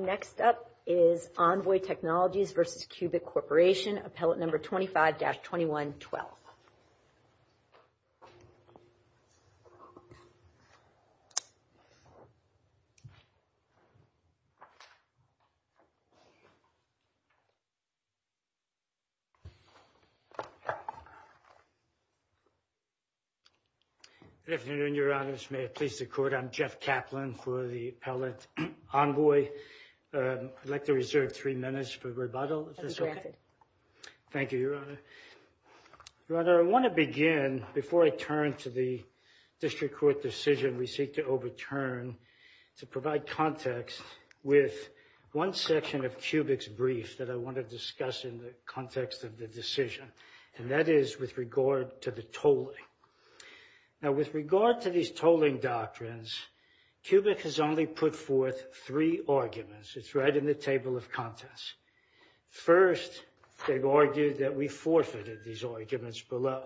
Next up is Envoy Technologies v. Cubic Corporation, Appellate No. 25-2112. Good afternoon, Your Honors. May it please the Court, I'm Jeff Kaplan for the Appellate Envoy. I'd like to reserve three minutes for rebuttal, if that's okay. Thank you, Your Honor. Your Honor, I want to begin, before I turn to the District Court decision, we seek to overturn to provide context with one section of Cubic's brief that I want to discuss in the context of the decision, and that is with regard to the tolling. Now, with regard to these tolling doctrines, Cubic has only put forth three arguments. It's right in the table of contents. First, they've argued that we forfeited these arguments below.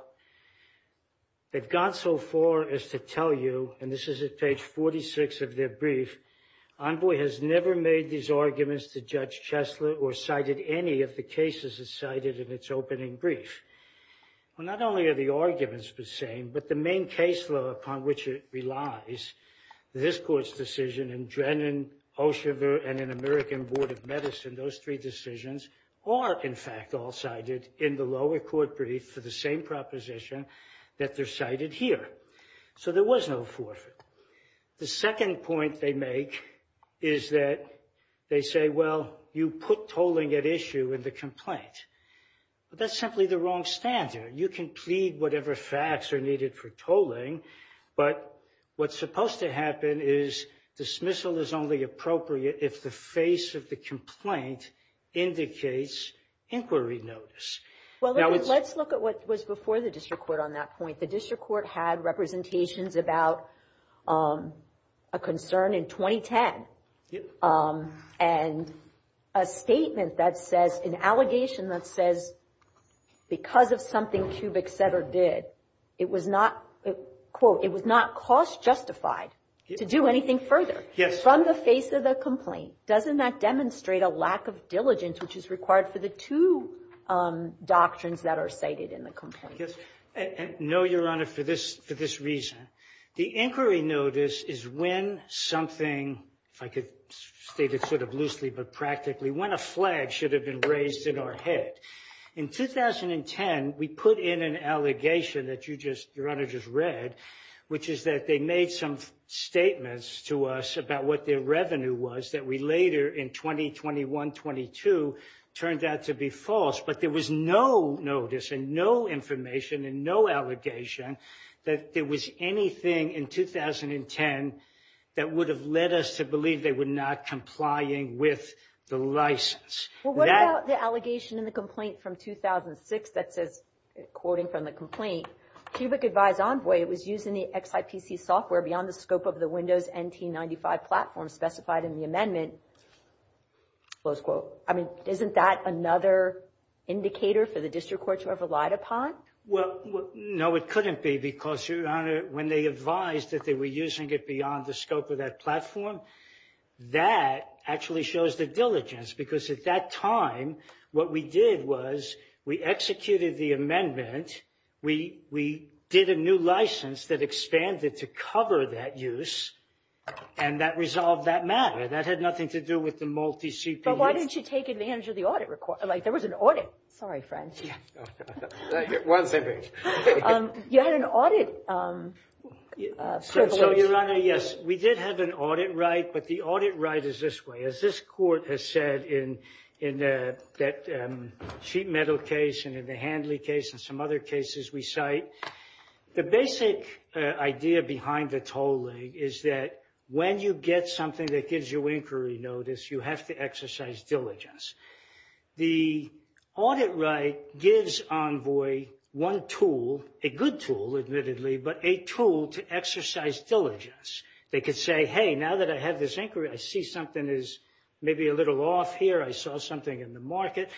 They've gone so far as to tell you, and this is at page 46 of their brief, Envoy has never made these arguments to Judge Chesler or cited any of the cases it cited in its opening brief. Well, not only are the arguments the same, but the main caseload upon which it relies, this Court's decision in Drennen, Oshiver, and in American Board of Medicine, those three decisions are, in fact, all cited in the lower court brief for the same proposition that they're cited here. So, there was no forfeit. The second point they make is that they say, well, you put tolling at issue in the complaint, but that's simply the wrong standard. You can plead whatever facts are for tolling, but what's supposed to happen is dismissal is only appropriate if the face of the complaint indicates inquiry notice. Well, let's look at what was before the district court on that point. The district court had representations about a concern in 2010, and a statement that says, an allegation that says, because of something Cubic said or did, it was not, quote, it was not cost justified to do anything further from the face of the complaint. Doesn't that demonstrate a lack of diligence which is required for the two doctrines that are cited in the complaint? Yes. No, Your Honor, for this reason. The inquiry notice is when something, if I could state it sort of loosely but practically, when a flag should have been raised in our head. In 2010, we put in an allegation that Your Honor just read, which is that they made some statements to us about what their revenue was that we later in 2021-22 turned out to be false, but there was no notice and no information and no allegation that there was anything in 2010 that would have led us to believe they were not complying with the license. Well, what about the allegation in the complaint from 2006 that says, quoting from the complaint, Cubic Advised Envoy, it was used in the XIPC software beyond the scope of the Windows NT95 platform specified in the amendment, close quote. I mean, isn't that another indicator for the district court to have relied upon? Well, no, it couldn't be because, Your Honor, when they advised that they were using it beyond the scope of that platform, that actually shows the diligence, because at that time, what we did was we executed the amendment, we did a new license that expanded to cover that use, and that resolved that matter. That had nothing to do with the multi-CPUs. But why didn't you take advantage of the audit? Like, there was an audit right, but the audit right is this way. As this court has said in that sheet metal case and in the Handley case and some other cases we cite, the basic idea behind the tolling is that when you get something that gives you inquiry notice, you have to exercise diligence. The audit right gives Envoy one tool, a good tool, admittedly, but a tool to exercise diligence. They could say, hey, now that I have this inquiry, I see something is maybe a little off here. I saw something in the market.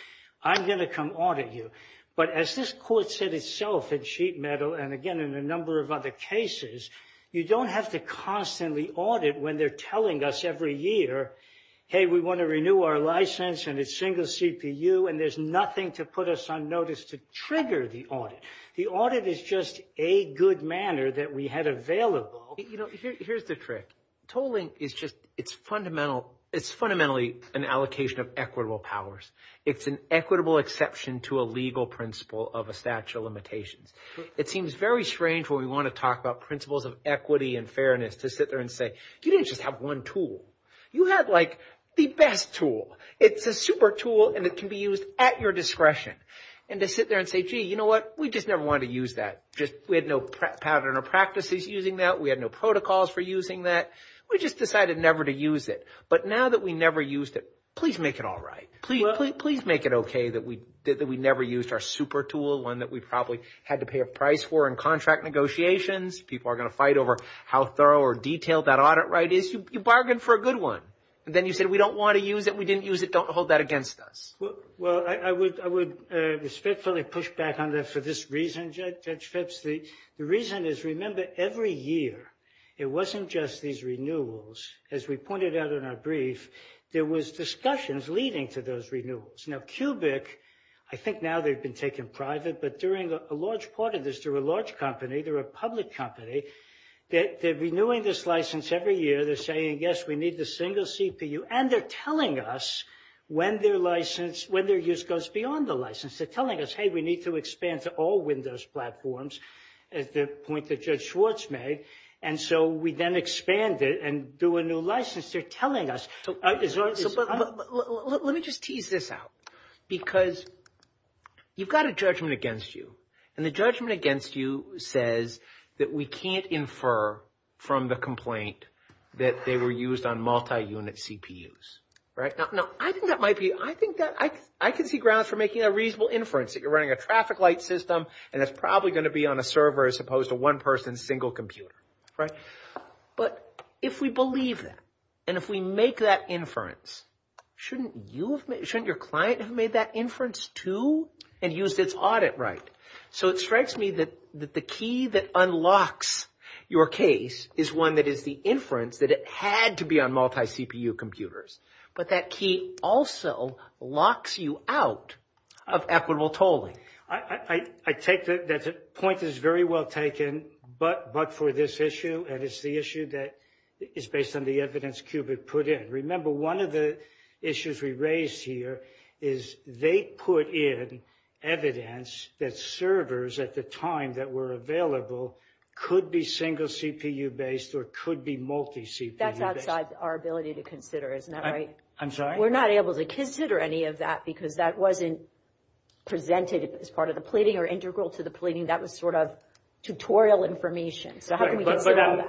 I'm going to come audit you. But as this court said itself in sheet metal and again, in a number of other cases, you don't have to constantly audit when they're telling us every year, hey, we want to renew our license and it's single CPU, and there's nothing to put us on the audit. The audit is just a good manner that we had available. Here's the trick. Tolling is just, it's fundamentally an allocation of equitable powers. It's an equitable exception to a legal principle of a statute of limitations. It seems very strange when we want to talk about principles of equity and fairness to sit there and say, you didn't just have one tool. You had like the best tool. It's a super tool and it can be used at your discretion. And to sit there and say, gee, you know what? We just never wanted to use that. We had no pattern or practices using that. We had no protocols for using that. We just decided never to use it. But now that we never used it, please make it all right. Please make it okay that we never used our super tool, one that we probably had to pay a price for in contract negotiations. People are going to fight over how thorough or detailed that audit right is. You bargained for a good one. And then you said, we don't want to use it. We didn't use it. Don't hold that against us. Well, I would respectfully push back on that for this reason, Judge Phipps. The reason is, remember, every year, it wasn't just these renewals. As we pointed out in our brief, there was discussions leading to those renewals. Now, Cubic, I think now they've been taken private. But during a large part of this, they're a large company. They're a public company. They're renewing this license every year. They're saying, yes, we need the single CPU. And they're telling us when their license, when their use goes beyond the license. They're telling us, hey, we need to expand to all Windows platforms, the point that Judge Schwartz made. And so we then expand it and do a new license. They're telling us. Let me just tease this out. Because you've got a judgment against you. And the judgment against you says that we can't infer from the complaint that they were used on multi-unit CPUs, right? Now, I think that might be, I think that I can see grounds for making a reasonable inference that you're running a traffic light system. And it's probably going to be on a server as opposed to one person's single computer, right? But if we believe that, and if we make that inference, shouldn't your client have made that inference too and used its audit right? So it strikes me that the key that unlocks your case is one that is the inference that it had to be on multi-CPU computers. But that key also locks you out of equitable tolling. I take that point is very well taken, but for this issue. And it's the issue that is based on the evidence Qubit put in. Remember, one of the issues we raised here is they put in evidence that servers at the time that were available could be single CPU based or could be multi-CPU based. That's outside our ability to consider, isn't that right? I'm sorry? We're not able to consider any of that because that wasn't presented as part of the pleading or integral to the pleading. That was sort of tutorial information. So how can we consider all that?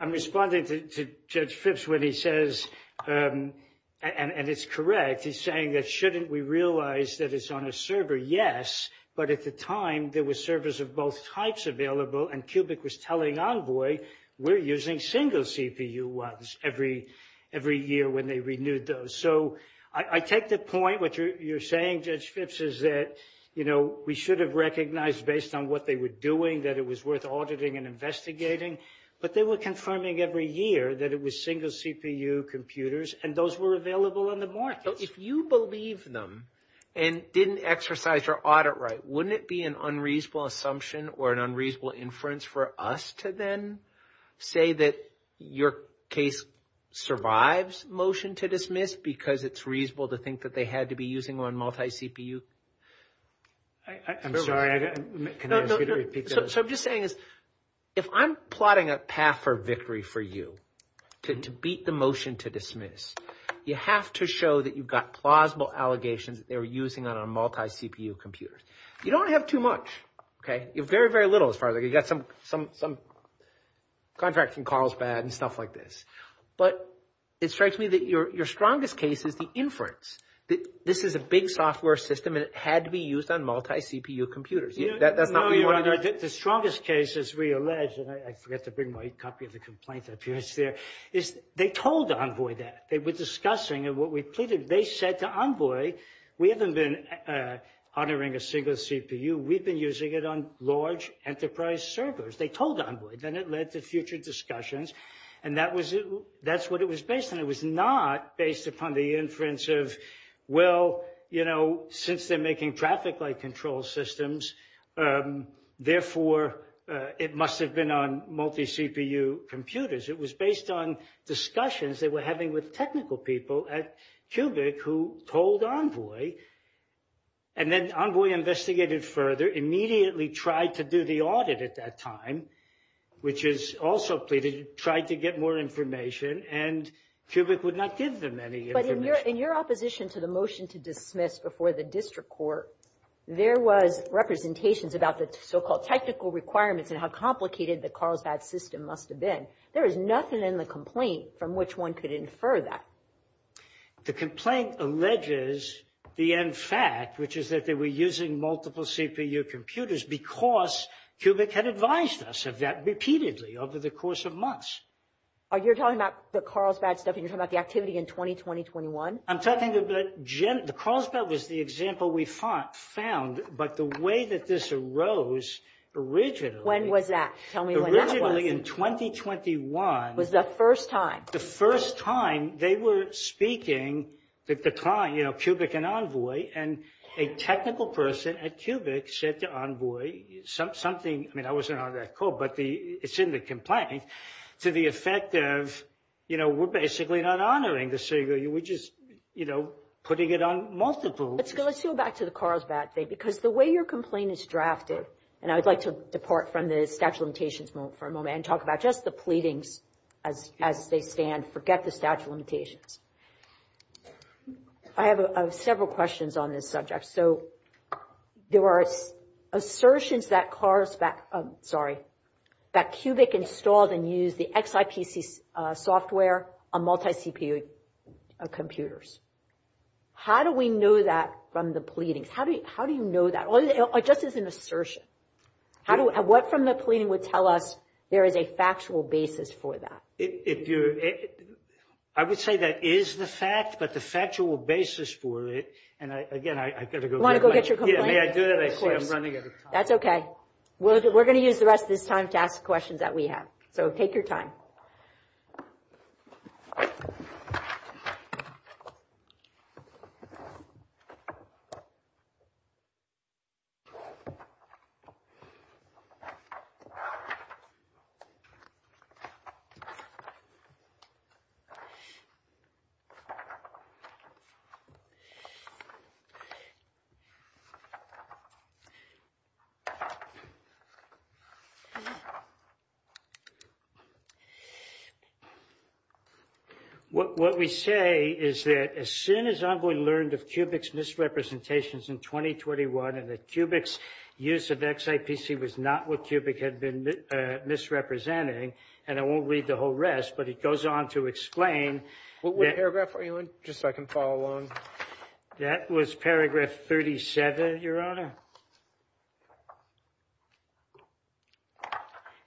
I'm responding to Judge Phipps when he says, and it's correct, he's saying that shouldn't we realize that it's on a server? Yes, but at the time there were servers of both types available and Qubit was telling Envoy we're using single CPU ones every year when they renewed those. So I take the point what you're saying, Judge Phipps, is that we should have recognized based on what they were doing that it was worth auditing and investigating. But they were confirming every year that it was single CPU computers and those were available on the market. If you believe them and didn't exercise your audit right, wouldn't it be an unreasonable assumption or an unreasonable inference for us to then say that your case survives motion to dismiss because it's reasonable to think that they had to be using one multi-CPU? I'm sorry, can I ask you to repeat that? So I'm just saying is if I'm plotting a path for victory for you to beat the motion to dismiss, you have to show that you've got plausible allegations that they were using on a multi-CPU computer. You don't have too much, okay? You have very, very little as far as like you got some contracting calls bad and stuff like this. But it strikes me that your strongest case is the inference that this is a big software system and it had to be used on multi-CPU computers. That's not what you want to do. The strongest case, as we allege, and I forgot to bring my copy of the complaint that appears there, is they told Envoy that. They were discussing and what we pleaded. They said to Envoy, we haven't been honoring a single CPU. We've been using it on large enterprise servers. They told Envoy. Then it led to future discussions and that's what it was based on. It was not based upon the inference of, well, you know, since they're making traffic light control systems, therefore, it must have been on multi-CPU computers. It was based on discussions they were having with technical people at Cubic who told Envoy. And then Envoy investigated further, immediately tried to do the audit at that time, which is also pleaded, tried to get more information and Cubic would not give them any information. But in your opposition to the motion to dismiss before the district court, there was representations about the so-called technical requirements and how complicated the Carlsbad system must have been. There is nothing in the complaint from which one could infer that. The complaint alleges the end fact, which is that they were using multiple CPU computers because Cubic had advised us of that repeatedly over the course of months. You're talking about the Carlsbad stuff and you're talking about the activity in 2020-21? I'm talking about, the Carlsbad was the example we found, but the way that this arose originally- When was that? Tell me when that was. Originally in 2021- Was the first time. The first time they were speaking, you know, Cubic and Envoy and a technical person at Cubic said to Envoy something, I mean, I wasn't on that call, but it's in the complaint to the effect of, you know, we're basically not honoring the CPU, we're just, you know, putting it on multiple- Let's go back to the Carlsbad thing, because the way your complaint is drafted, and I'd like to depart from the statute of limitations for a moment and talk about just the pleadings as they stand, forget the statute of limitations. I have several questions on this subject. So there were assertions that Cubic installed and used the XIPC software on multi-CPU computers. How do we know that from the pleadings? How do you know that, just as an assertion? What from the pleading would tell us there is a factual basis for that? If you're- I would say that is the fact, but the factual basis for it, and again, I've got to go- Want to go get your complaint? May I do that? I see I'm running out of time. That's okay. We're going to use the rest of this time to ask questions that we have. So take your What we say is that as soon as I've learned of Cubic's misrepresentations in 2021 and that Cubic's use of XIPC was not what Cubic had been misrepresenting, and I won't read the whole rest, but it goes on to explain- What paragraph are you in, just so I can follow along? That was paragraph 37, Your Honor.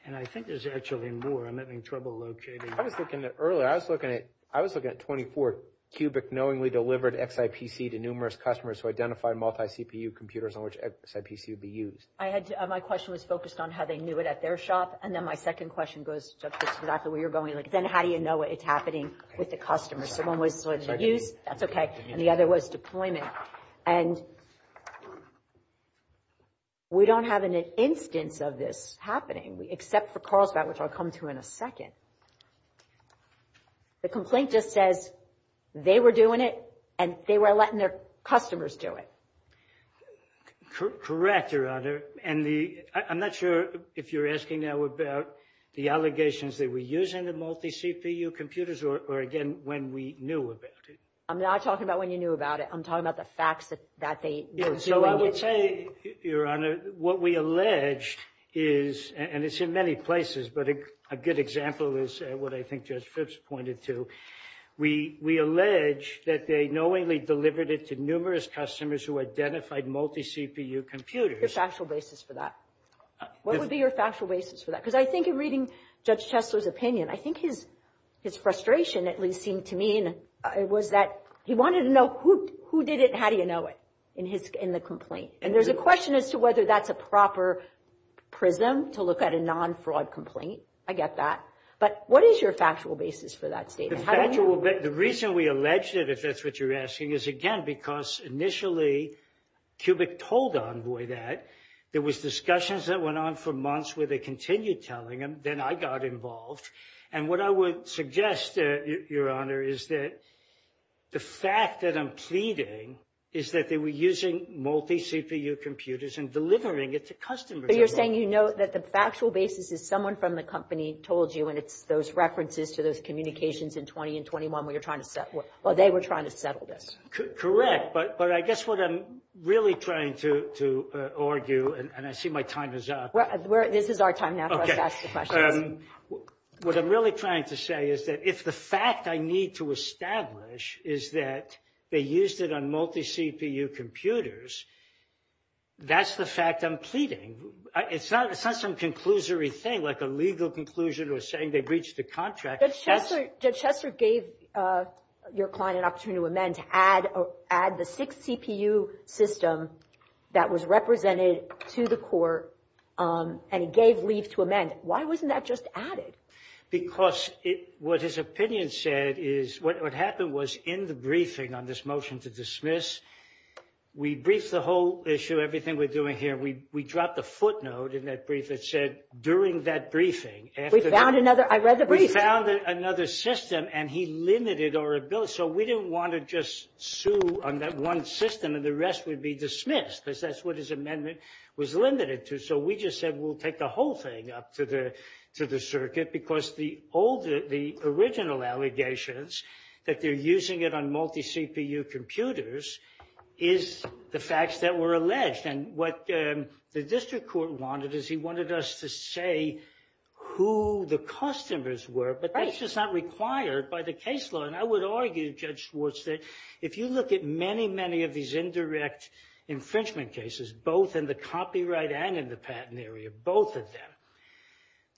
And I think there's actually more. I'm having trouble locating- I was looking at earlier. I was looking at 24. Cubic knowingly delivered XIPC to numerous customers who identified multi-CPU computers on which XIPC would be used. I had- My question was focused on how they knew it at their shop, and then my second question goes just exactly where you're going. Like, then how do you know what's happening with the customers? So one was what they use? That's okay. And the other was deployment. And we don't have an instance of this happening, except for Carlsbad, which I'll come to in a second. The complaint just says they were doing it, and they were letting their customers do it. Correct, Your Honor. And the- I'm not sure if you're asking now about the allegations that we're using the multi-CPU computers, or again, when we knew about it. I'm not talking about when you knew about it. I'm talking about the facts that they were doing it. So I would say, Your Honor, what we allege is, and it's in many places, but a good example is what I think Judge Phipps pointed to. We allege that they knowingly delivered it to numerous customers who identified multi-CPU computers. Your factual basis for that. What would be your factual basis for that? Because I think in reading Judge Chesler's opinion, I think his frustration, at least seemed to me, was that he wanted to know who did it and how do you know it in the complaint. And there's a question as to whether that's a proper prism to look at a non-fraud complaint. I get that. But what is your factual basis for that statement? The reason we allege that, if that's what you're asking, is again, because initially, Cubic told Envoy that. There was discussions that went on for months where they continued telling him. Then I got involved. And what I would suggest, Your Honor, is that the fact that I'm pleading is that they were using multi-CPU computers and delivering it to customers. But you're saying, you know, that the factual basis is someone from the company told you, and it's those references to those communications in 20 and 21 where you're trying to settle. Well, they were trying to settle this. Correct. But I guess what I'm really trying to argue, and I see my time is up. This is our time now to ask the questions. Okay. What I'm really trying to say is that if the fact I need to establish is that they used it on multi-CPU computers, that's the fact I'm pleading. It's not some conclusory thing, like a legal conclusion or saying they breached the contract. Judge Chester gave your client an opportunity to amend to add the six-CPU system that was represented to the court, and he gave leave to amend. Why wasn't that just added? Because what his opinion said is what happened was in the briefing on this motion to dismiss, we briefed the whole issue, everything we're doing here. We dropped the footnote in that brief that said during that briefing. We found another. I read the brief. We found another system and he limited our ability. So we didn't want to just sue on that one system and the rest would be dismissed because that's what his amendment was limited to. So we just said, we'll take the whole thing up to the circuit because the original allegations that they're using it on multi-CPU computers is the facts that were alleged. And what the district court wanted is he wanted us to say who the customers were, but that's just not required by the case law. And I would argue, Judge Schwartz, that if you look at many, many of these indirect infringement cases, both in the copyright and in the patent area, both of them,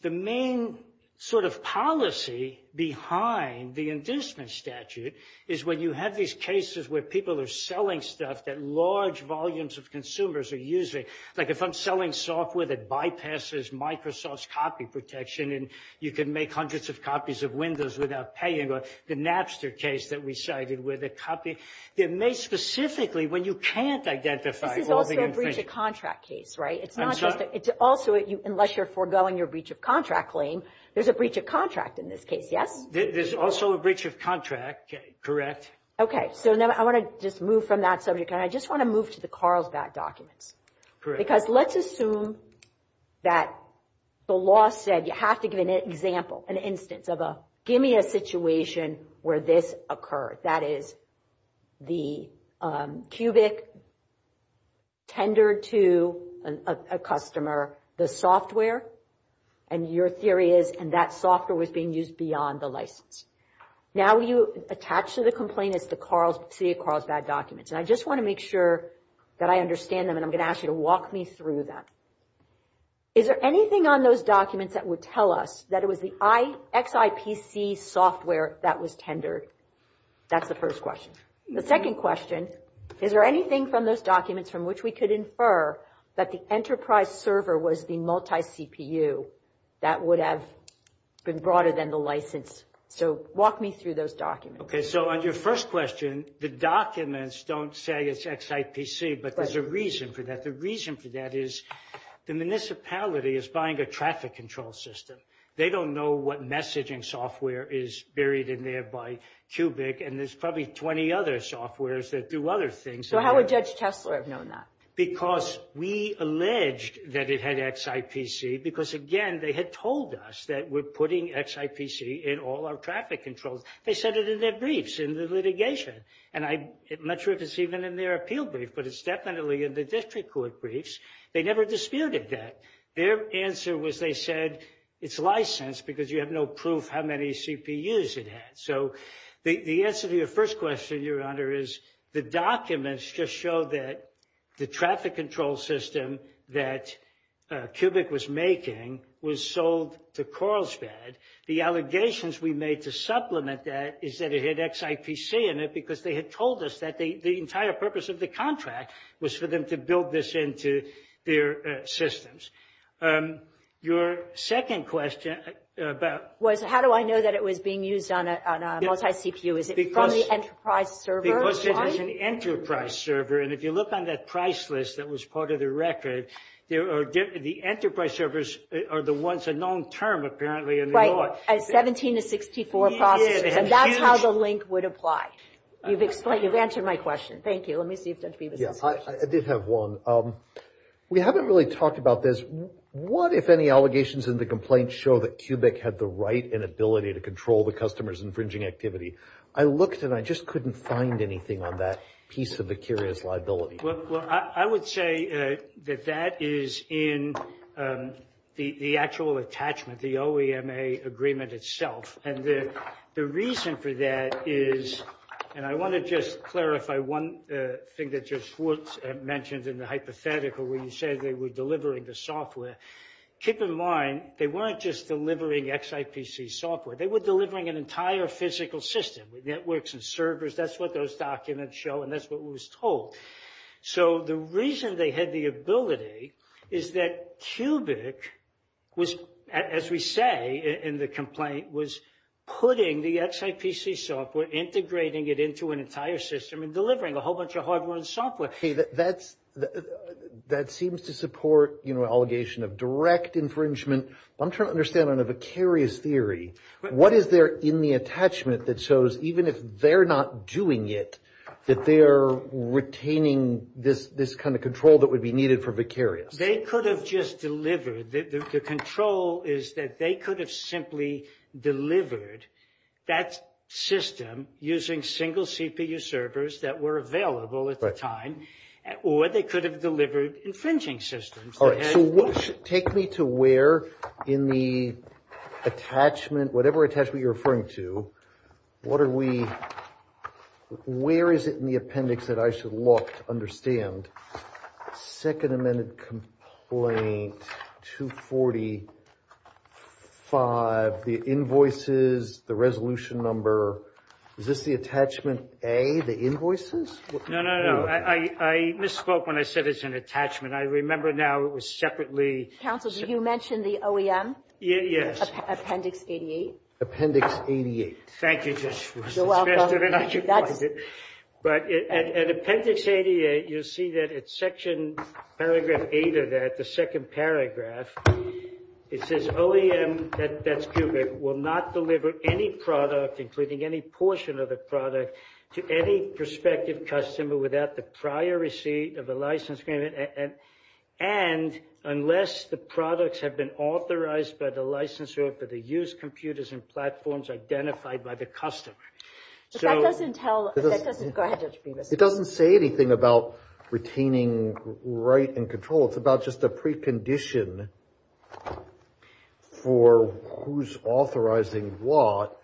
the main sort of policy behind the inducement statute is when you have these cases where people are selling stuff that large volumes of consumers are using. Like if I'm selling software that bypasses Microsoft's copy protection and you can make hundreds of copies of Windows without paying, or the Napster case that we cited where the copy, they're made specifically when you can't identify all the infringement. This is also a breach of contract case, right? It's not just, it's also, unless you're foregoing your breach of contract claim, there's a breach of contract in this case, yes? There's also a breach of contract, correct? Okay. So now I want to just move from that subject, and I just want to move to the Carlsbad documents. Because let's assume that the law said you have to give an example, an instance of a, give me a situation where this occurred. That is the Cubic tendered to a customer the software, and your theory is, and that software was being used beyond the license. Now you attach to the complaint, it's the city of Carlsbad documents. And I just want to make sure that I understand them, and I'm going to ask you to walk me through that. Is there anything on those documents that would tell us that it was the XIPC software that was tendered? That's the first question. The second question, is there anything from those documents from which we could infer that the enterprise server was the multi-CPU that would have been broader than the license? So walk me through those documents. So on your first question, the documents don't say it's XIPC, but there's a reason for that. The reason for that is the municipality is buying a traffic control system. They don't know what messaging software is buried in there by Cubic, and there's probably 20 other softwares that do other things. So how would Judge Tesler have known that? Because we alleged that it had XIPC, because again, they had told us that we're putting XIPC in all our traffic controls. They said it in their briefs in the litigation, and I'm not sure if it's even in their appeal brief, but it's definitely in the district court briefs. They never disputed that. Their answer was they said it's licensed because you have no proof how many CPUs it had. So the answer to your first question, Your Honor, is the documents just show that the traffic control system that Cubic was making was sold to Coral's Bed. The allegations we made to supplement that is that it had XIPC in it, because they had told us that the entire purpose of the contract was for them to build this into their systems. Your second question about- Was how do I know that it was being used on a multi-CPU? Is it from the enterprise server? Because it was an enterprise server, and if you look on that price list that was part of the record, the enterprise servers are the ones that are known term apparently in the law. Right, a 17 to 64 process, and that's how the link would apply. You've explained, you've answered my question. Thank you. Let me see if Judge Beebe has a question. I did have one. We haven't really talked about this. What if any allegations in the complaint show that Cubic had the right and ability to control the customer's infringing activity? I looked and I just couldn't find anything on that piece of the curious liability. Well, I would say that that is in the actual attachment, the OEMA agreement itself. And the reason for that is, and I want to just clarify one thing that Judge Schwartz mentioned in the hypothetical where you said they were delivering the software. Keep in mind, they weren't just delivering XIPC software. They were delivering an entire physical system with networks and servers. That's what those documents show, and that's what was told. So the reason they had the ability is that Cubic was, as we say in the complaint, was putting the XIPC software, integrating it into an entire system and delivering a whole bunch of hardware and software. That seems to support an allegation of direct infringement. I'm trying to understand on a vicarious theory, what is there in the that shows even if they're not doing it, that they're retaining this kind of control that would be needed for vicarious? They could have just delivered. The control is that they could have simply delivered that system using single CPU servers that were available at the time, or they could have delivered infringing systems. All right. So take me to where in the attachment, whatever attachment you're referring to, what are we, where is it in the appendix that I should look to understand? Second Amendment Complaint 245, the invoices, the resolution number. Is this the attachment A, the invoices? No, no, no. I misspoke when I said it's an attachment. I remember now it was separately. Counsel, did you mention the OEM? Yes. Appendix 88. Appendix 88. Thank you. But at Appendix 88, you'll see that it's Section Paragraph 8 of that, the second paragraph. It says OEM, that's cubic, will not deliver any product, including any portion of the product, to any prospective customer without the prior receipt of the license payment. And unless the products have been authorized by the licensor for the use computers and platforms identified by the customer. But that doesn't tell, go ahead, Judge Bemis. It doesn't say anything about retaining right and control. It's about just a precondition for who's authorizing what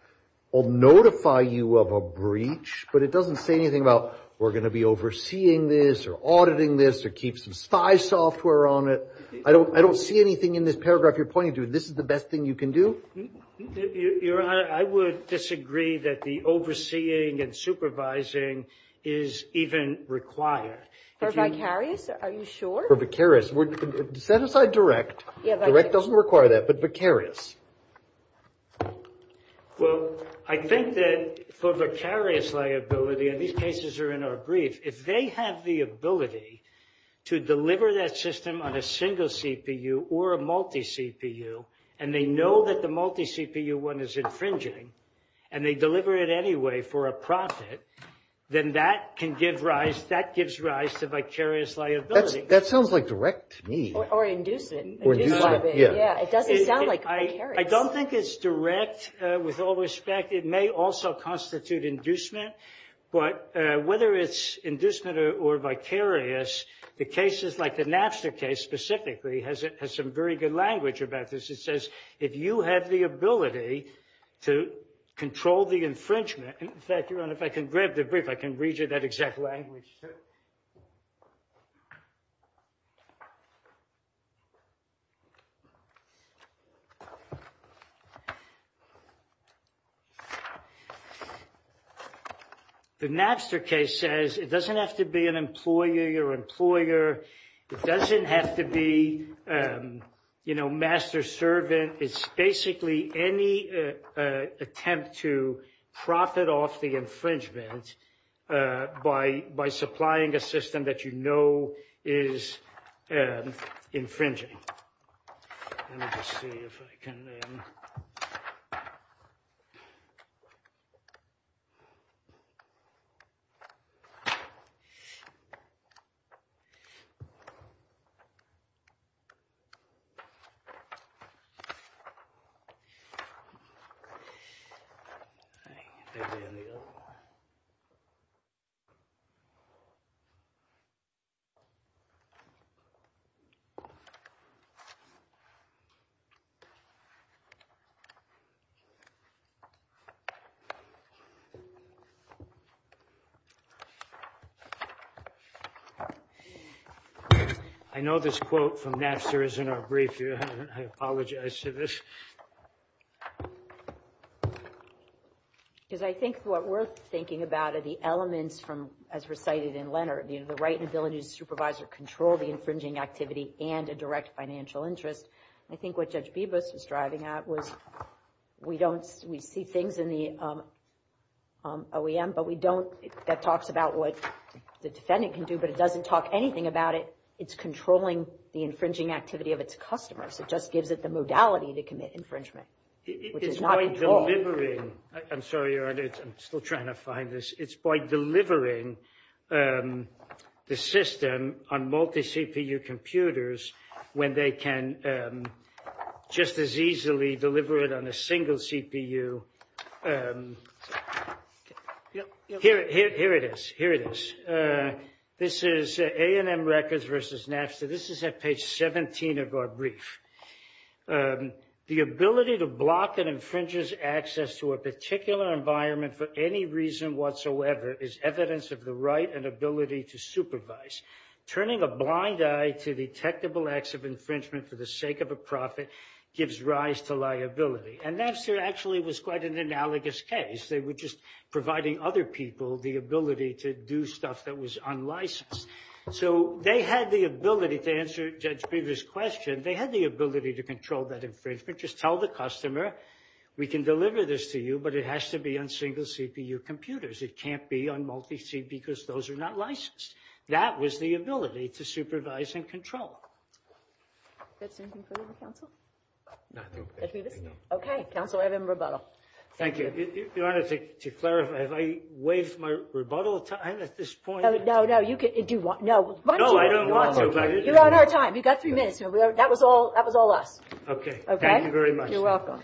will notify you of a breach, but it doesn't say anything about we're going to be overseeing this or auditing this or keep some spy software on it. I don't see anything in this paragraph you're pointing to. This is the best thing you can do? Your Honor, I would disagree that the overseeing and supervising is even required. For vicarious? Are you sure? For vicarious. Set aside direct. Direct doesn't require that, but vicarious. Well, I think that for vicarious liability, and these cases are in our brief, if they have the ability to deliver that system on a single CPU or a multi-CPU, and they know that the multi-CPU one is infringing, and they deliver it anyway for a profit, then that can give rise, that gives rise to vicarious liability. That sounds like direct to me. Or induce it. Or induce it. It doesn't sound like vicarious. I don't think it's direct with all respect. It may also constitute inducement, but whether it's inducement or vicarious, the cases like the Napster case specifically has some very good language about this. It says, if you have the ability to control the infringement, and in fact, Your Honor, if I can grab the brief, I can read you that exact language. The Napster case says it doesn't have to be an employer. You're an employer. It doesn't have to be master servant. It's basically any attempt to profit off the infringement by supplying a system that you know is infringing. Let me just see if I can then. I know this quote from Napster is in our brief. I apologize for this. Because I think what we're thinking about are the elements from, as recited in Leonard, the right and ability to supervise or control the infringing activity and a direct financial interest. I think what Judge Bibas was driving at was we don't, we see things in the OEM, but we don't, that talks about what the defendant can do, but it doesn't talk anything about it. It's controlling the infringing activity of its customers. It just gives it the modality to commit infringement, which is not controlled. I'm sorry. I'm still trying to find this. It's by delivering the system on multi-CPU computers when they can just as easily deliver it on a single CPU. Here it is. Here it is. This is A&M Records versus Napster. This is at page 17 of our brief. The ability to block and infringes access to a particular environment for any reason whatsoever is evidence of the right and ability to supervise. Turning a blind eye to detectable acts of infringement for the sake of a profit gives rise to liability. And Napster actually was quite an analogous case. They were just providing other people the ability to do stuff that was unlicensed. So they had the ability to answer Judge Brewer's question. They had the ability to control that infringement. Just tell the customer, we can deliver this to you, but it has to be on single CPU computers. It can't be on multi-C because those are not licensed. That was the ability to supervise and control. That's it. Okay. Counsel, I have a rebuttal. Thank you. Your Honor, to clarify, have I waived my rebuttal time at this point? No, no. You can do what you want. No. No, I don't want to. You're on our time. You've got three minutes. That was all us. Okay. Thank you very much. You're welcome.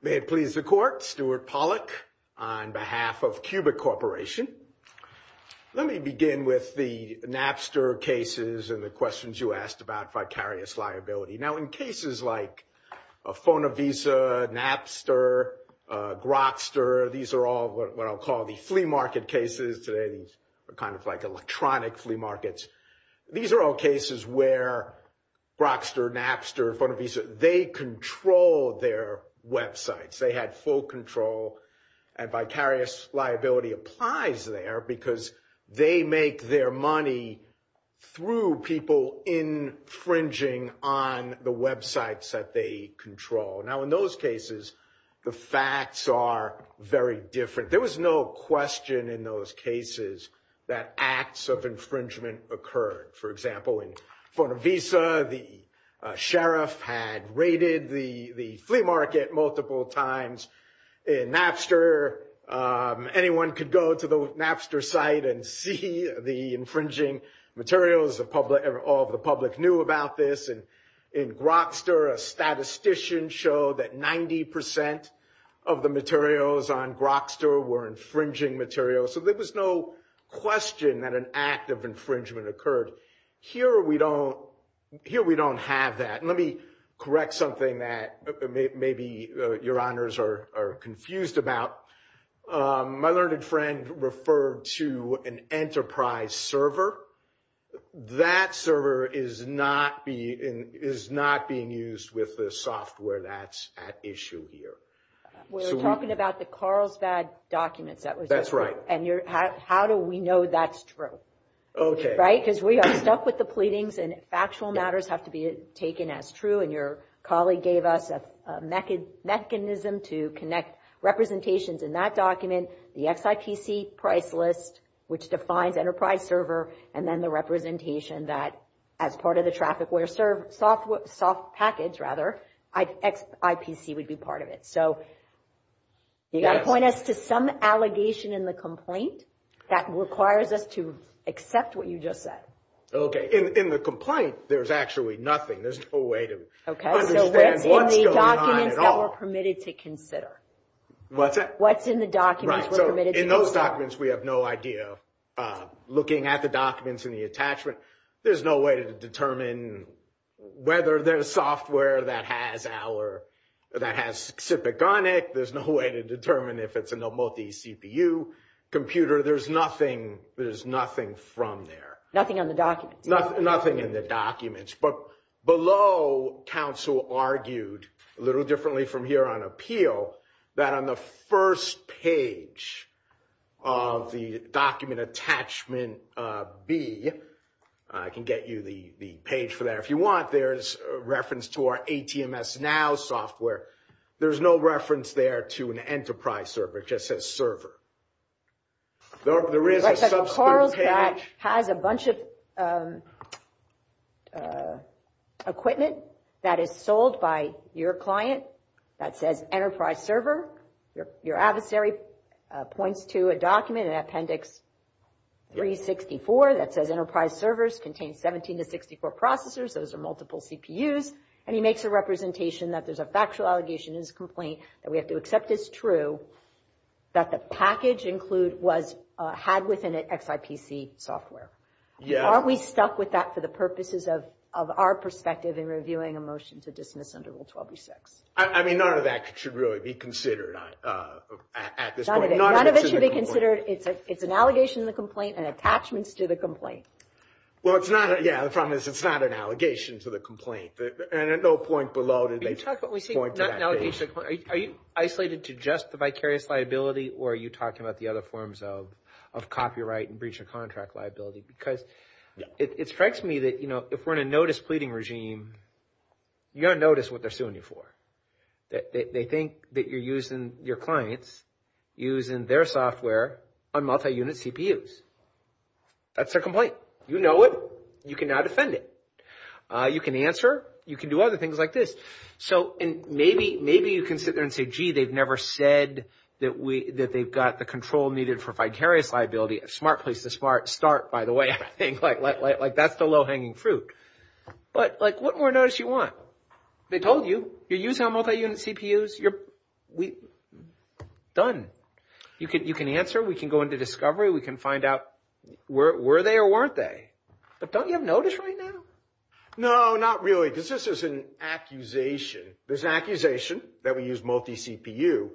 May it please the Court, Stuart Pollack on behalf of Cubic Corporation. Let me begin with the Napster cases and the questions you asked about vicarious liability. Now, in cases like Fonavisa, Napster, Grokster, these are all what I'll call the flea market cases today. These are kind of like electronic flea markets. These are all cases where Grokster, Napster, Fonavisa, they control their websites. They had full control and vicarious liability applies there because they make their money through people infringing on the websites that they control. Now, in those cases, the facts are very different. There was no question in those cases that acts of infringement occurred. For example, in Fonavisa, the sheriff had raided the flea market multiple times. In Napster, anyone could go to the Napster site and see the infringing materials. All the public knew about this. In Grokster, a statistician showed that 90% of the materials on Grokster were infringing materials. So there was no question that an act of infringement occurred. Here, we don't have that. Let me correct something that maybe your honors are confused about. My learned friend referred to an enterprise server. That server is not being used with the software that's at issue here. We're talking about the Carlsbad documents. That's right. How do we know that's true? Because we are stuck with the pleadings and factual matters have to be taken as true. Your colleague gave us a mechanism to connect representations in that document, the XIPC price list, which defines enterprise server, and then the representation that as part of the software package, XIPC would be part of it. You got to point us to some allegation in the complaint that requires us to accept what you just said. In the complaint, there's actually nothing. There's no way to understand what's going on at all. What's in the documents that we're permitted to consider? In those documents, we have no idea. Looking at the documents and the attachment, there's no way to determine whether there's software that has XIPC on it. There's no way to determine if it's a multi-CPU computer. There's nothing from there. Nothing on the documents. Nothing in the documents. Below, counsel argued a little differently from here on appeal, that on the first page of the document attachment B, I can get you the page for that if you want, there's a reference to our ATMS Now software. There's no reference there to an enterprise server. It just says server. There is a substitute page. Right, so Carl's back has a bunch of equipment that is sold by your client that says enterprise server. Your adversary points to a document in appendix 364 that says enterprise servers contain 17 to 64 processors. Those are multi-CPUs. He makes a representation that there's a factual allegation in his complaint that we have to accept as true that the package include was had within it XIPC software. Are we stuck with that for the purposes of our perspective in reviewing a motion to dismiss under Rule 12.6? I mean, none of that should really be considered at this point. None of it should be considered. It's an allegation in the complaint and attachments to the complaint. Well, it's not, yeah, the problem is it's not an allegation to the complaint. And at no point below did they point to that. Are you isolated to just the vicarious liability or are you talking about the other forms of copyright and breach of contract liability? Because it strikes me that, you know, if we're in a notice pleading regime, you don't notice what they're suing you for. They think that you're using your clients, using their software on multi-unit CPUs. That's their complaint. You know it. You can now defend it. You can answer. You can do other things like this. So maybe you can sit there and say, gee, they've never said that they've got the control needed for vicarious liability. Smart place to start, by the way, I think, like that's the low-hanging fruit. But like what more notice you want? They told you, you're using multi-unit CPUs. You're done. You can answer. We can go into discovery. We can find out were they or weren't they. But don't you have notice right now? No, not really, because this is an accusation. There's an accusation that we use multi-CPU,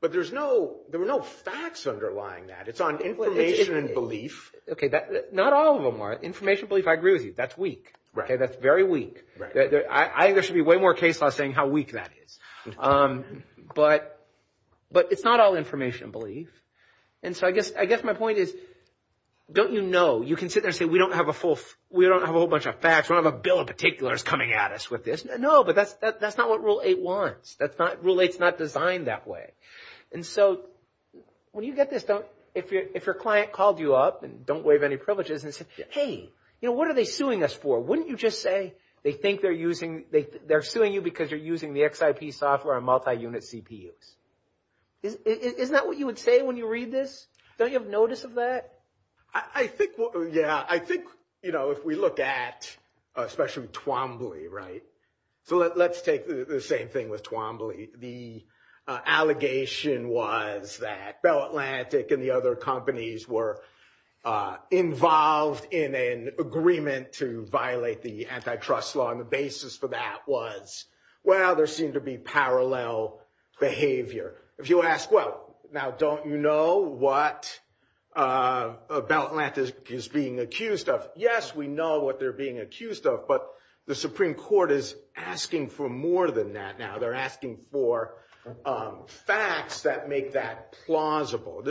but there were no facts underlying that. It's on information and belief. OK, not all of them are. Information belief, I agree with you. That's very weak. I think there should be way more case laws saying how weak that is. But it's not all information belief. And so I guess my point is, don't you know? You can sit there and say, we don't have a whole bunch of facts. We don't have a bill of particulars coming at us with this. No, but that's not what Rule 8 wants. Rule 8 is not designed that way. And so when you get this, if your client called you up and don't waive any privileges and said, hey, what are they suing us for? Wouldn't you just say they think they're suing you because you're using the XIP software on multi-unit CPUs? Isn't that what you would say when you read this? Don't you have notice of that? Yeah, I think if we look at, especially Twombly, right? So let's take the same thing with Twombly. The allegation was that Bell Atlantic and the other companies were involved in an agreement to violate the antitrust law. And the basis for that was, well, there seemed to be parallel behavior. If you ask, well, now don't you know what Bell Atlantic is being accused of? Yes, we know what they're being accused of. But the Supreme Court is asking for more than that now. They're asking for facts that make that plausible.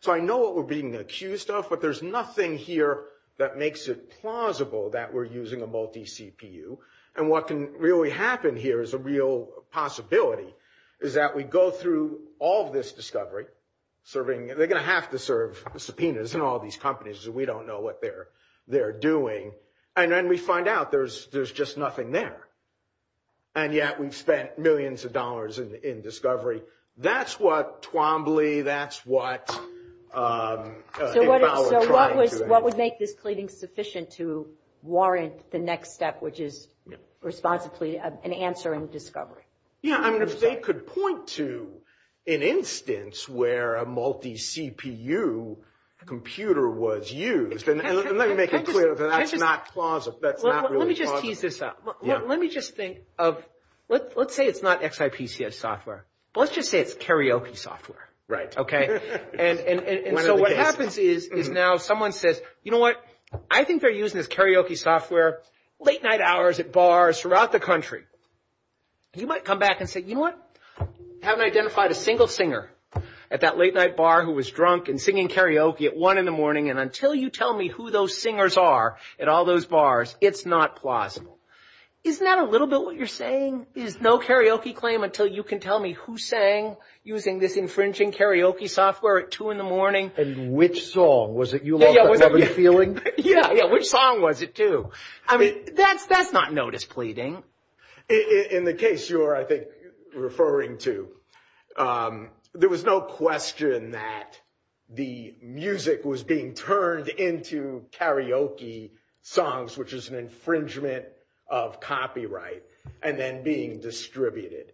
So I know what we're being accused of. But there's nothing here that makes it plausible that we're using a multi-CPU. And what can really happen here is a real possibility, is that we go through all of this discovery. They're going to have to serve subpoenas in all these companies. We don't know what they're doing. And then we find out there's just nothing there. And yet we've spent millions of dollars in discovery. That's what Twombly, that's what... So what would make this cleaning sufficient to warrant the next step, which is responsibly an answer in discovery? Yeah, I mean, if they could point to an instance where a multi-CPU computer was used, and let me make it clear that that's not plausible, that's not really plausible. Let me just tease this out. Let me just think of, let's say it's not XIPCS software, but let's just say it's karaoke software. And so what happens is now someone says, you know what? I think they're using this karaoke software late night hours at bars throughout the country. You might come back and say, you know what? I haven't identified a single singer at that late night bar who was drunk and singing karaoke at one in the morning. And until you tell me who those singers are at all those bars, it's not plausible. Isn't that a little bit saying? There's no karaoke claim until you can tell me who sang using this infringing karaoke software at two in the morning. And which song? Was it You Love That Loving Feeling? Yeah, yeah. Which song was it too? I mean, that's not notice pleading. In the case you're, I think, referring to, there was no question that the music was being turned into karaoke songs, which is an infringement of copyright and then being distributed.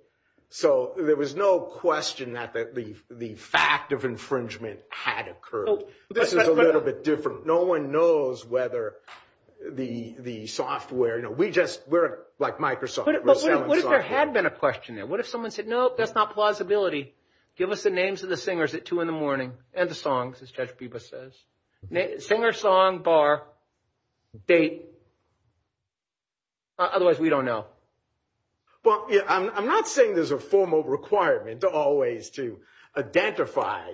So there was no question that the fact of infringement had occurred. This is a little bit different. No one knows whether the software, you know, we just, we're like Microsoft. But what if there had been a question there? What if someone said, no, that's not plausibility. Give us the names of the singers at two in the morning and the songs, as Judge Bibas says. Singer, song, bar, date. Otherwise, we don't know. Well, I'm not saying there's a formal requirement to always to identify.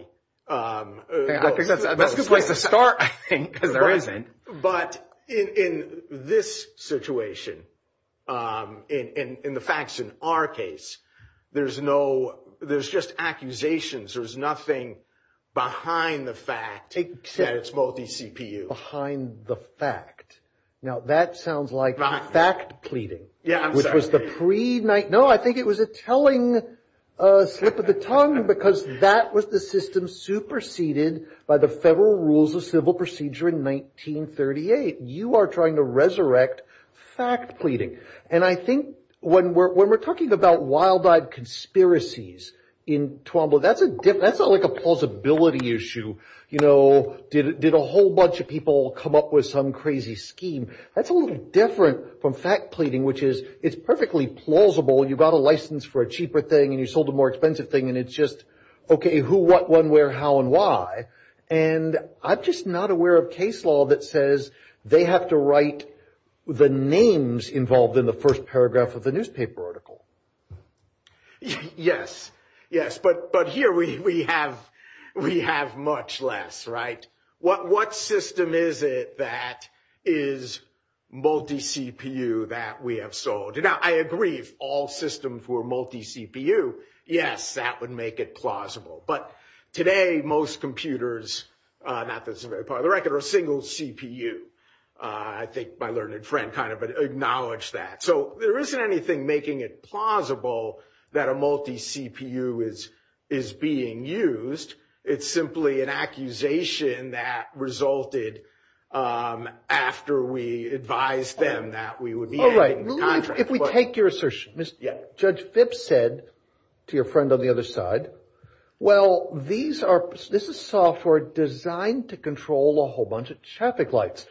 I think that's a good place to start, I think, because there isn't. But in this situation, in the facts in our case, there's no, there's just accusations. There's nothing behind the fact that it's multi-CPU. Behind the fact. Now, that sounds like fact pleading, which was the pre night. No, I think it was a telling slip of the tongue because that was the system superseded by the federal rules of civil procedure in 1938. You are trying to resurrect fact pleading. And I think when we're talking about wild-eyed conspiracies in Tuambo, that's not like a plausibility issue. Did a whole bunch of people come up with some crazy scheme? That's a little different from fact pleading, which is, it's perfectly plausible. You got a license for a cheaper thing and you sold a more expensive thing and it's just, okay, who, what, when, where, how, and why. And I'm just not aware of case law that says they have to write the names involved in the first paragraph of the newspaper article. Yes, yes. But here we have much less, right? What system is it that is multi-CPU that we have sold? Now, I agree, if all systems were multi-CPU, yes, that would make it plausible. But today, most computers, not that it's a very popular record, are single CPU. I think my learned friend acknowledged that. So there isn't anything making it plausible that a multi-CPU is being used. It's simply an accusation that resulted after we advised them that we would be adding contracts. If we take your assertion, Judge Phipps said to your friend on the other side, well, this is software designed to control a whole bunch of traffic lights.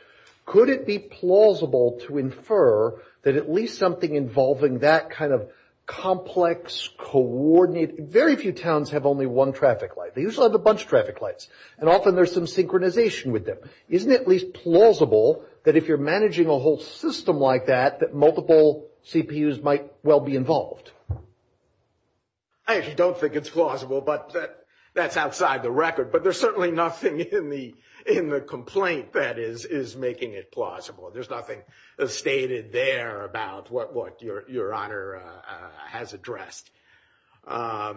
Could it be plausible to infer that at least something involving that kind of complex, coordinated, very few towns have only one traffic light. They usually have a bunch of traffic lights. And often there's some synchronization with them. Isn't it at least plausible that if you're managing a whole system like that, that multiple CPUs might well be involved? I actually don't think it's plausible, but that's outside the record. But there's certainly nothing in the complaint that is making it plausible. There's nothing stated there about what your honor has addressed. I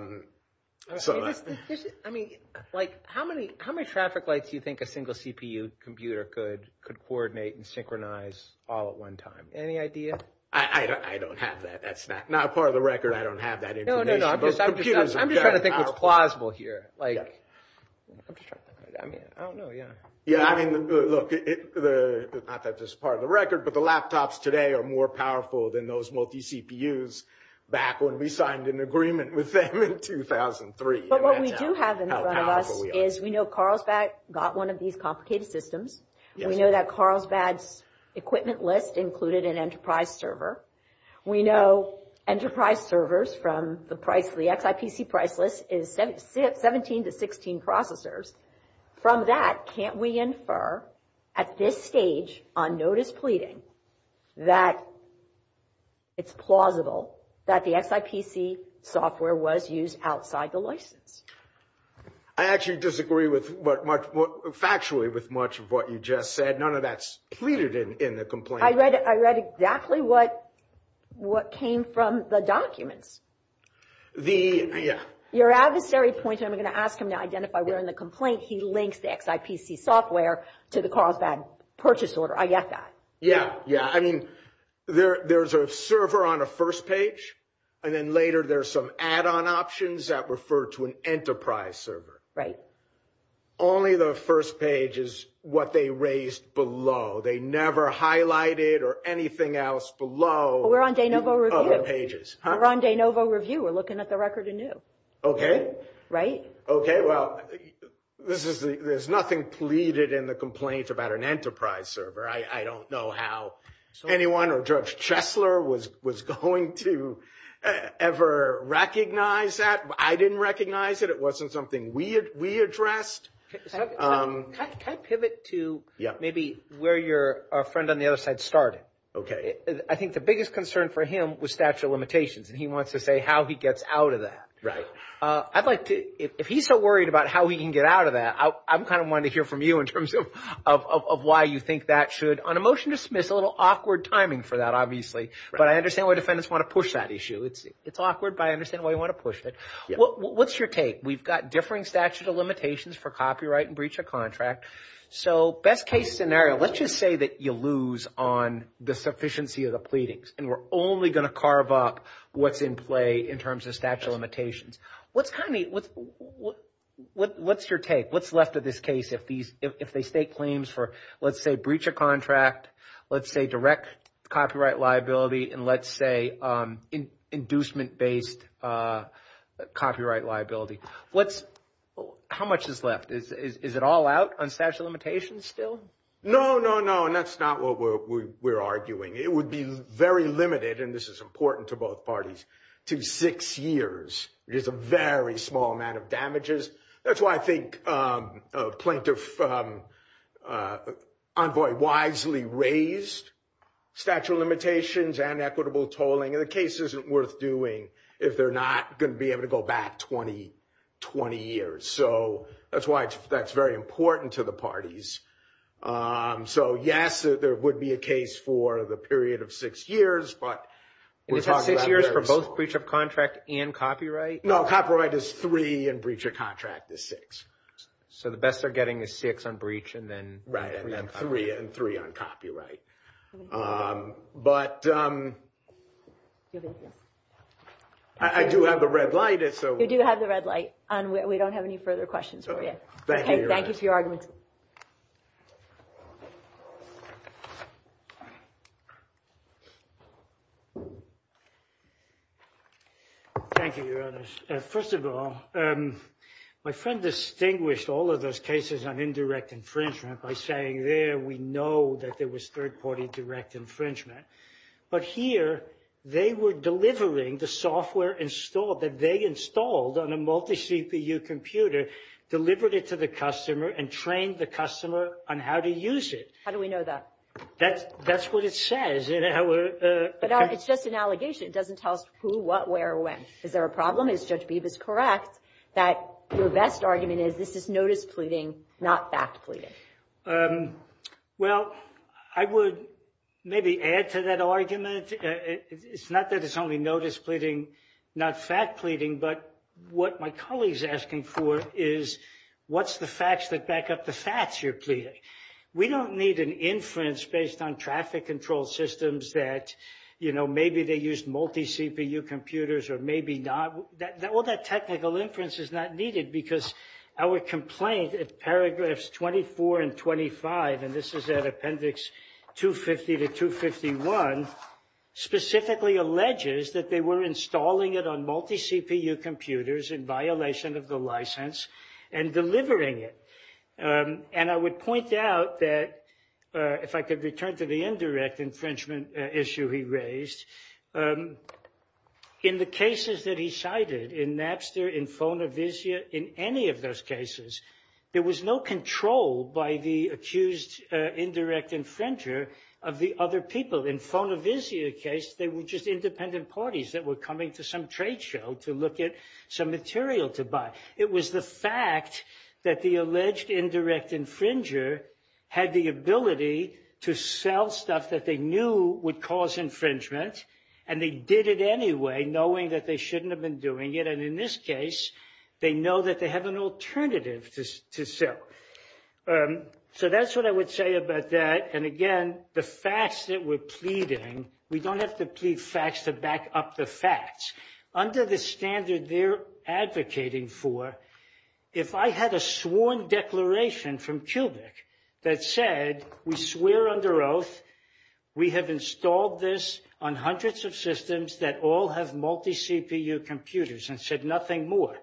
mean, like how many traffic lights do you think a single CPU computer could coordinate and synchronize all at one time? Any idea? I don't have that. That's not part of the record. I don't have that information. No, no, no. I'm just trying to think here. I don't know. Yeah. Yeah. I mean, look, not that this is part of the record, but the laptops today are more powerful than those multi-CPUs back when we signed an agreement with them in 2003. But what we do have in front of us is we know Carlsbad got one of these complicated systems. We know that Carlsbad's equipment list included an enterprise server. We know enterprise servers from the XIPC price list is 17 to 16 processors. From that, can't we infer at this stage on notice pleading that it's plausible that the XIPC software was used outside the license? I actually disagree factually with much of what you just said. None of that's pleaded in the complaint. I read exactly what came from the documents. Your adversary pointed, I'm going to ask him to identify where in the complaint he links the XIPC software to the Carlsbad purchase order. I get that. Yeah. Yeah. I mean, there's a server on a first page, and then later there's some add-on options that refer to an enterprise server. Right. Only the first page is what they raised below. They never highlighted or anything else below. We're on de novo review. We're on de novo review. We're looking at the record anew. Okay. Right. Okay. Well, there's nothing pleaded in the complaint about an enterprise server. I don't know how anyone or Judge Chesler was going to ever recognize that. I didn't recognize it. It was already addressed. Can I pivot to maybe where your friend on the other side started? Okay. I think the biggest concern for him was statute of limitations, and he wants to say how he gets out of that. Right. I'd like to, if he's so worried about how he can get out of that, I'm kind of wanting to hear from you in terms of why you think that should, on a motion to dismiss, a little awkward timing for that, obviously. But I understand why defendants want to push that issue. It's awkward, but I understand why you want to push it. What's your take? We've got differing statute of limitations for copyright and breach of contract. Best case scenario, let's just say that you lose on the sufficiency of the pleadings, and we're only going to carve up what's in play in terms of statute of limitations. What's your take? What's left of this case if they state claims for, let's say, breach of contract, let's say, direct copyright liability, and let's say, inducement-based copyright liability? How much is left? Is it all out on statute of limitations still? No, no, no, and that's not what we're arguing. It would be very limited, and this is important to both parties, to six years. It is a very small amount of damages. That's why I think a plaintiff envoy wisely raised statute of limitations and equitable tolling, and the case isn't worth doing if they're not going to be able to go back 20 years. So that's why that's very important to the parties. So, yes, there would be a case for the period of six years, but we're talking about- And it's six years for both breach of contract and copyright? No, copyright is three, and breach of contract is six. So the best they're getting is six on breach, and then- Right, and then three on copyright. But I do have the red light, and so- You do have the red light, and we don't have any further questions for you. Thank you, Your Honor. Thank you for your argument. Thank you, Your Honor. First of all, my friend distinguished all of those cases on indirect infringement by saying, there, we know that there was third-party direct infringement. But here, they were delivering the software that they installed on a multi-CPU computer, delivered it to the customer, and trained the customer on how to use it. How do we know that? That's what it says in our- But it's just an allegation. It doesn't tell us who, what, where, or when. Is there a problem? Is Judge Beeb is correct that your best argument is this is notice pleading, not fact pleading? Well, I would maybe add to that argument. It's not that it's only notice pleading, not fact pleading, but what my colleague's asking for is, what's the facts that back up the facts you're pleading? We don't need an inference based on traffic control systems that, you know, maybe they use multi-CPU computers or maybe not. All that technical inference is not needed because our complaint at paragraphs 24 and 25, and this is at appendix 250 to 251, specifically alleges that they were installing it on multi-CPU computers in violation of the license and delivering it. And I would point out that, if I could return to the indirect infringement issue he raised, in the cases that he cited in Napster, in Fonavisia, in any of those cases, they were just independent parties that were coming to some trade show to look at some material to buy. It was the fact that the alleged indirect infringer had the ability to sell stuff that they knew would cause infringement, and they did it anyway, knowing that they shouldn't have been doing it. And in this case, they know that they have an alternative to sell. So that's what I would say about that. And again, the facts that we're pleading, we don't have to plead facts to back up the facts. Under the standard they're advocating for, if I had a sworn declaration from Kubrick that said, we swear under oath we have installed this on hundreds of systems that all have multi-CPU computers and said nothing more,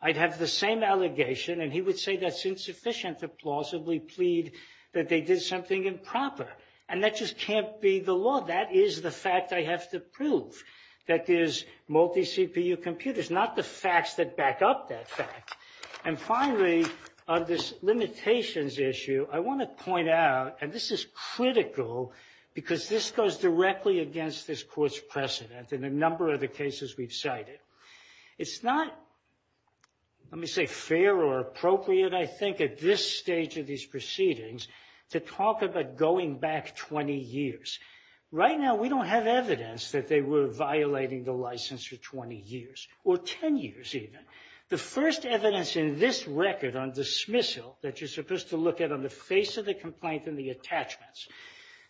I'd have the same allegation, and he would say that's insufficient to plausibly plead that they did something improper. And that just can't be the law. That is the fact I have to prove that there's multi-CPU computers, not the facts that back up that fact. And finally, on this limitations issue, I want to point out, and this is critical, because this goes directly against this court's precedent in a number of the cases we've cited. It's not, let me say, fair or appropriate, I think, at this stage of these proceedings to talk about going back 20 years. Right now, we don't have evidence that they were violating the license for 20 years, or 10 years even. The first evidence in this record on dismissal that you're supposed to look at on the face of the complaint and the attachments,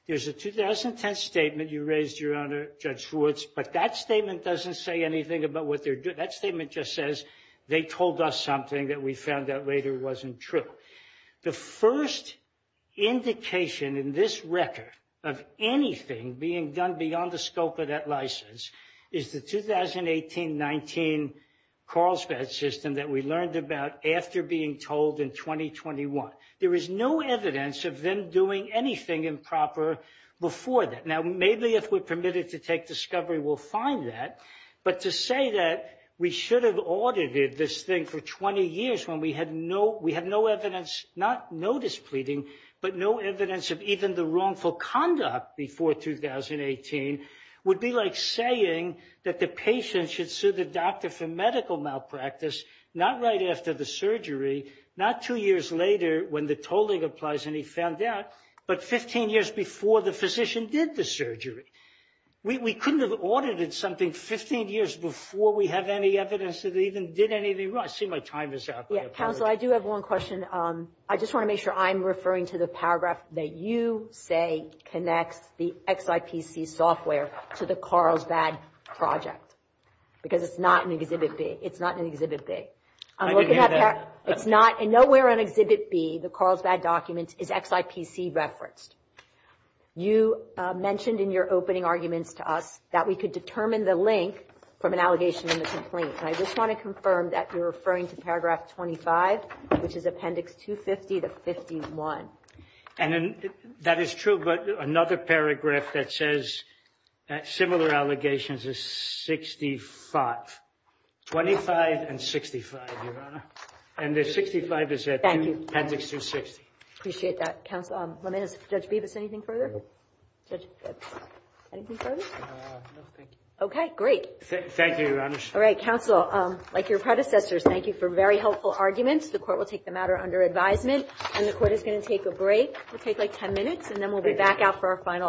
there's a 2010 statement you Your Honor, Judge Schwartz, but that statement doesn't say anything about what they're doing. That statement just says they told us something that we found out later wasn't true. The first indication in this record of anything being done beyond the scope of that license is the 2018-19 Carlsbad system that we learned about after being told in 2021. There is no evidence of them doing anything improper before that. Now, maybe if we're permitted to take discovery, we'll find that. But to say that we should have audited this thing for 20 years when we had no evidence, not notice pleading, but no evidence of even the wrongful conduct before 2018 would be like saying that the patient should sue the doctor for medical malpractice, not right after the surgery, not two years later when the tolling applies and he found out, but 15 years before the physician did the surgery. We couldn't have audited something 15 years before we have any evidence that they even did anything wrong. I see my time is up. Yeah, counsel, I do have one question. I just want to make sure I'm referring to the paragraph that you say connects the XIPC software to the Carlsbad project, because it's not an exhibit B. It's not, and nowhere on exhibit B, the Carlsbad document is XIPC referenced. You mentioned in your opening arguments to us that we could determine the link from an allegation in the complaint. And I just want to confirm that you're referring to paragraph 25, which is appendix 250 to 51. And that is true, but another paragraph that says similar allegations is 65. 25 and 65, Your Honor. And the 65 is appendix 260. Appreciate that, counsel. Judge Bibas, anything further? No, thank you. Okay, great. Thank you, Your Honor. All right, counsel, like your predecessors, thank you for very helpful arguments. The court will take the matter under advisement, and the court is going to take a break. We'll take like 10 minutes, and then we'll be back out for our final argument.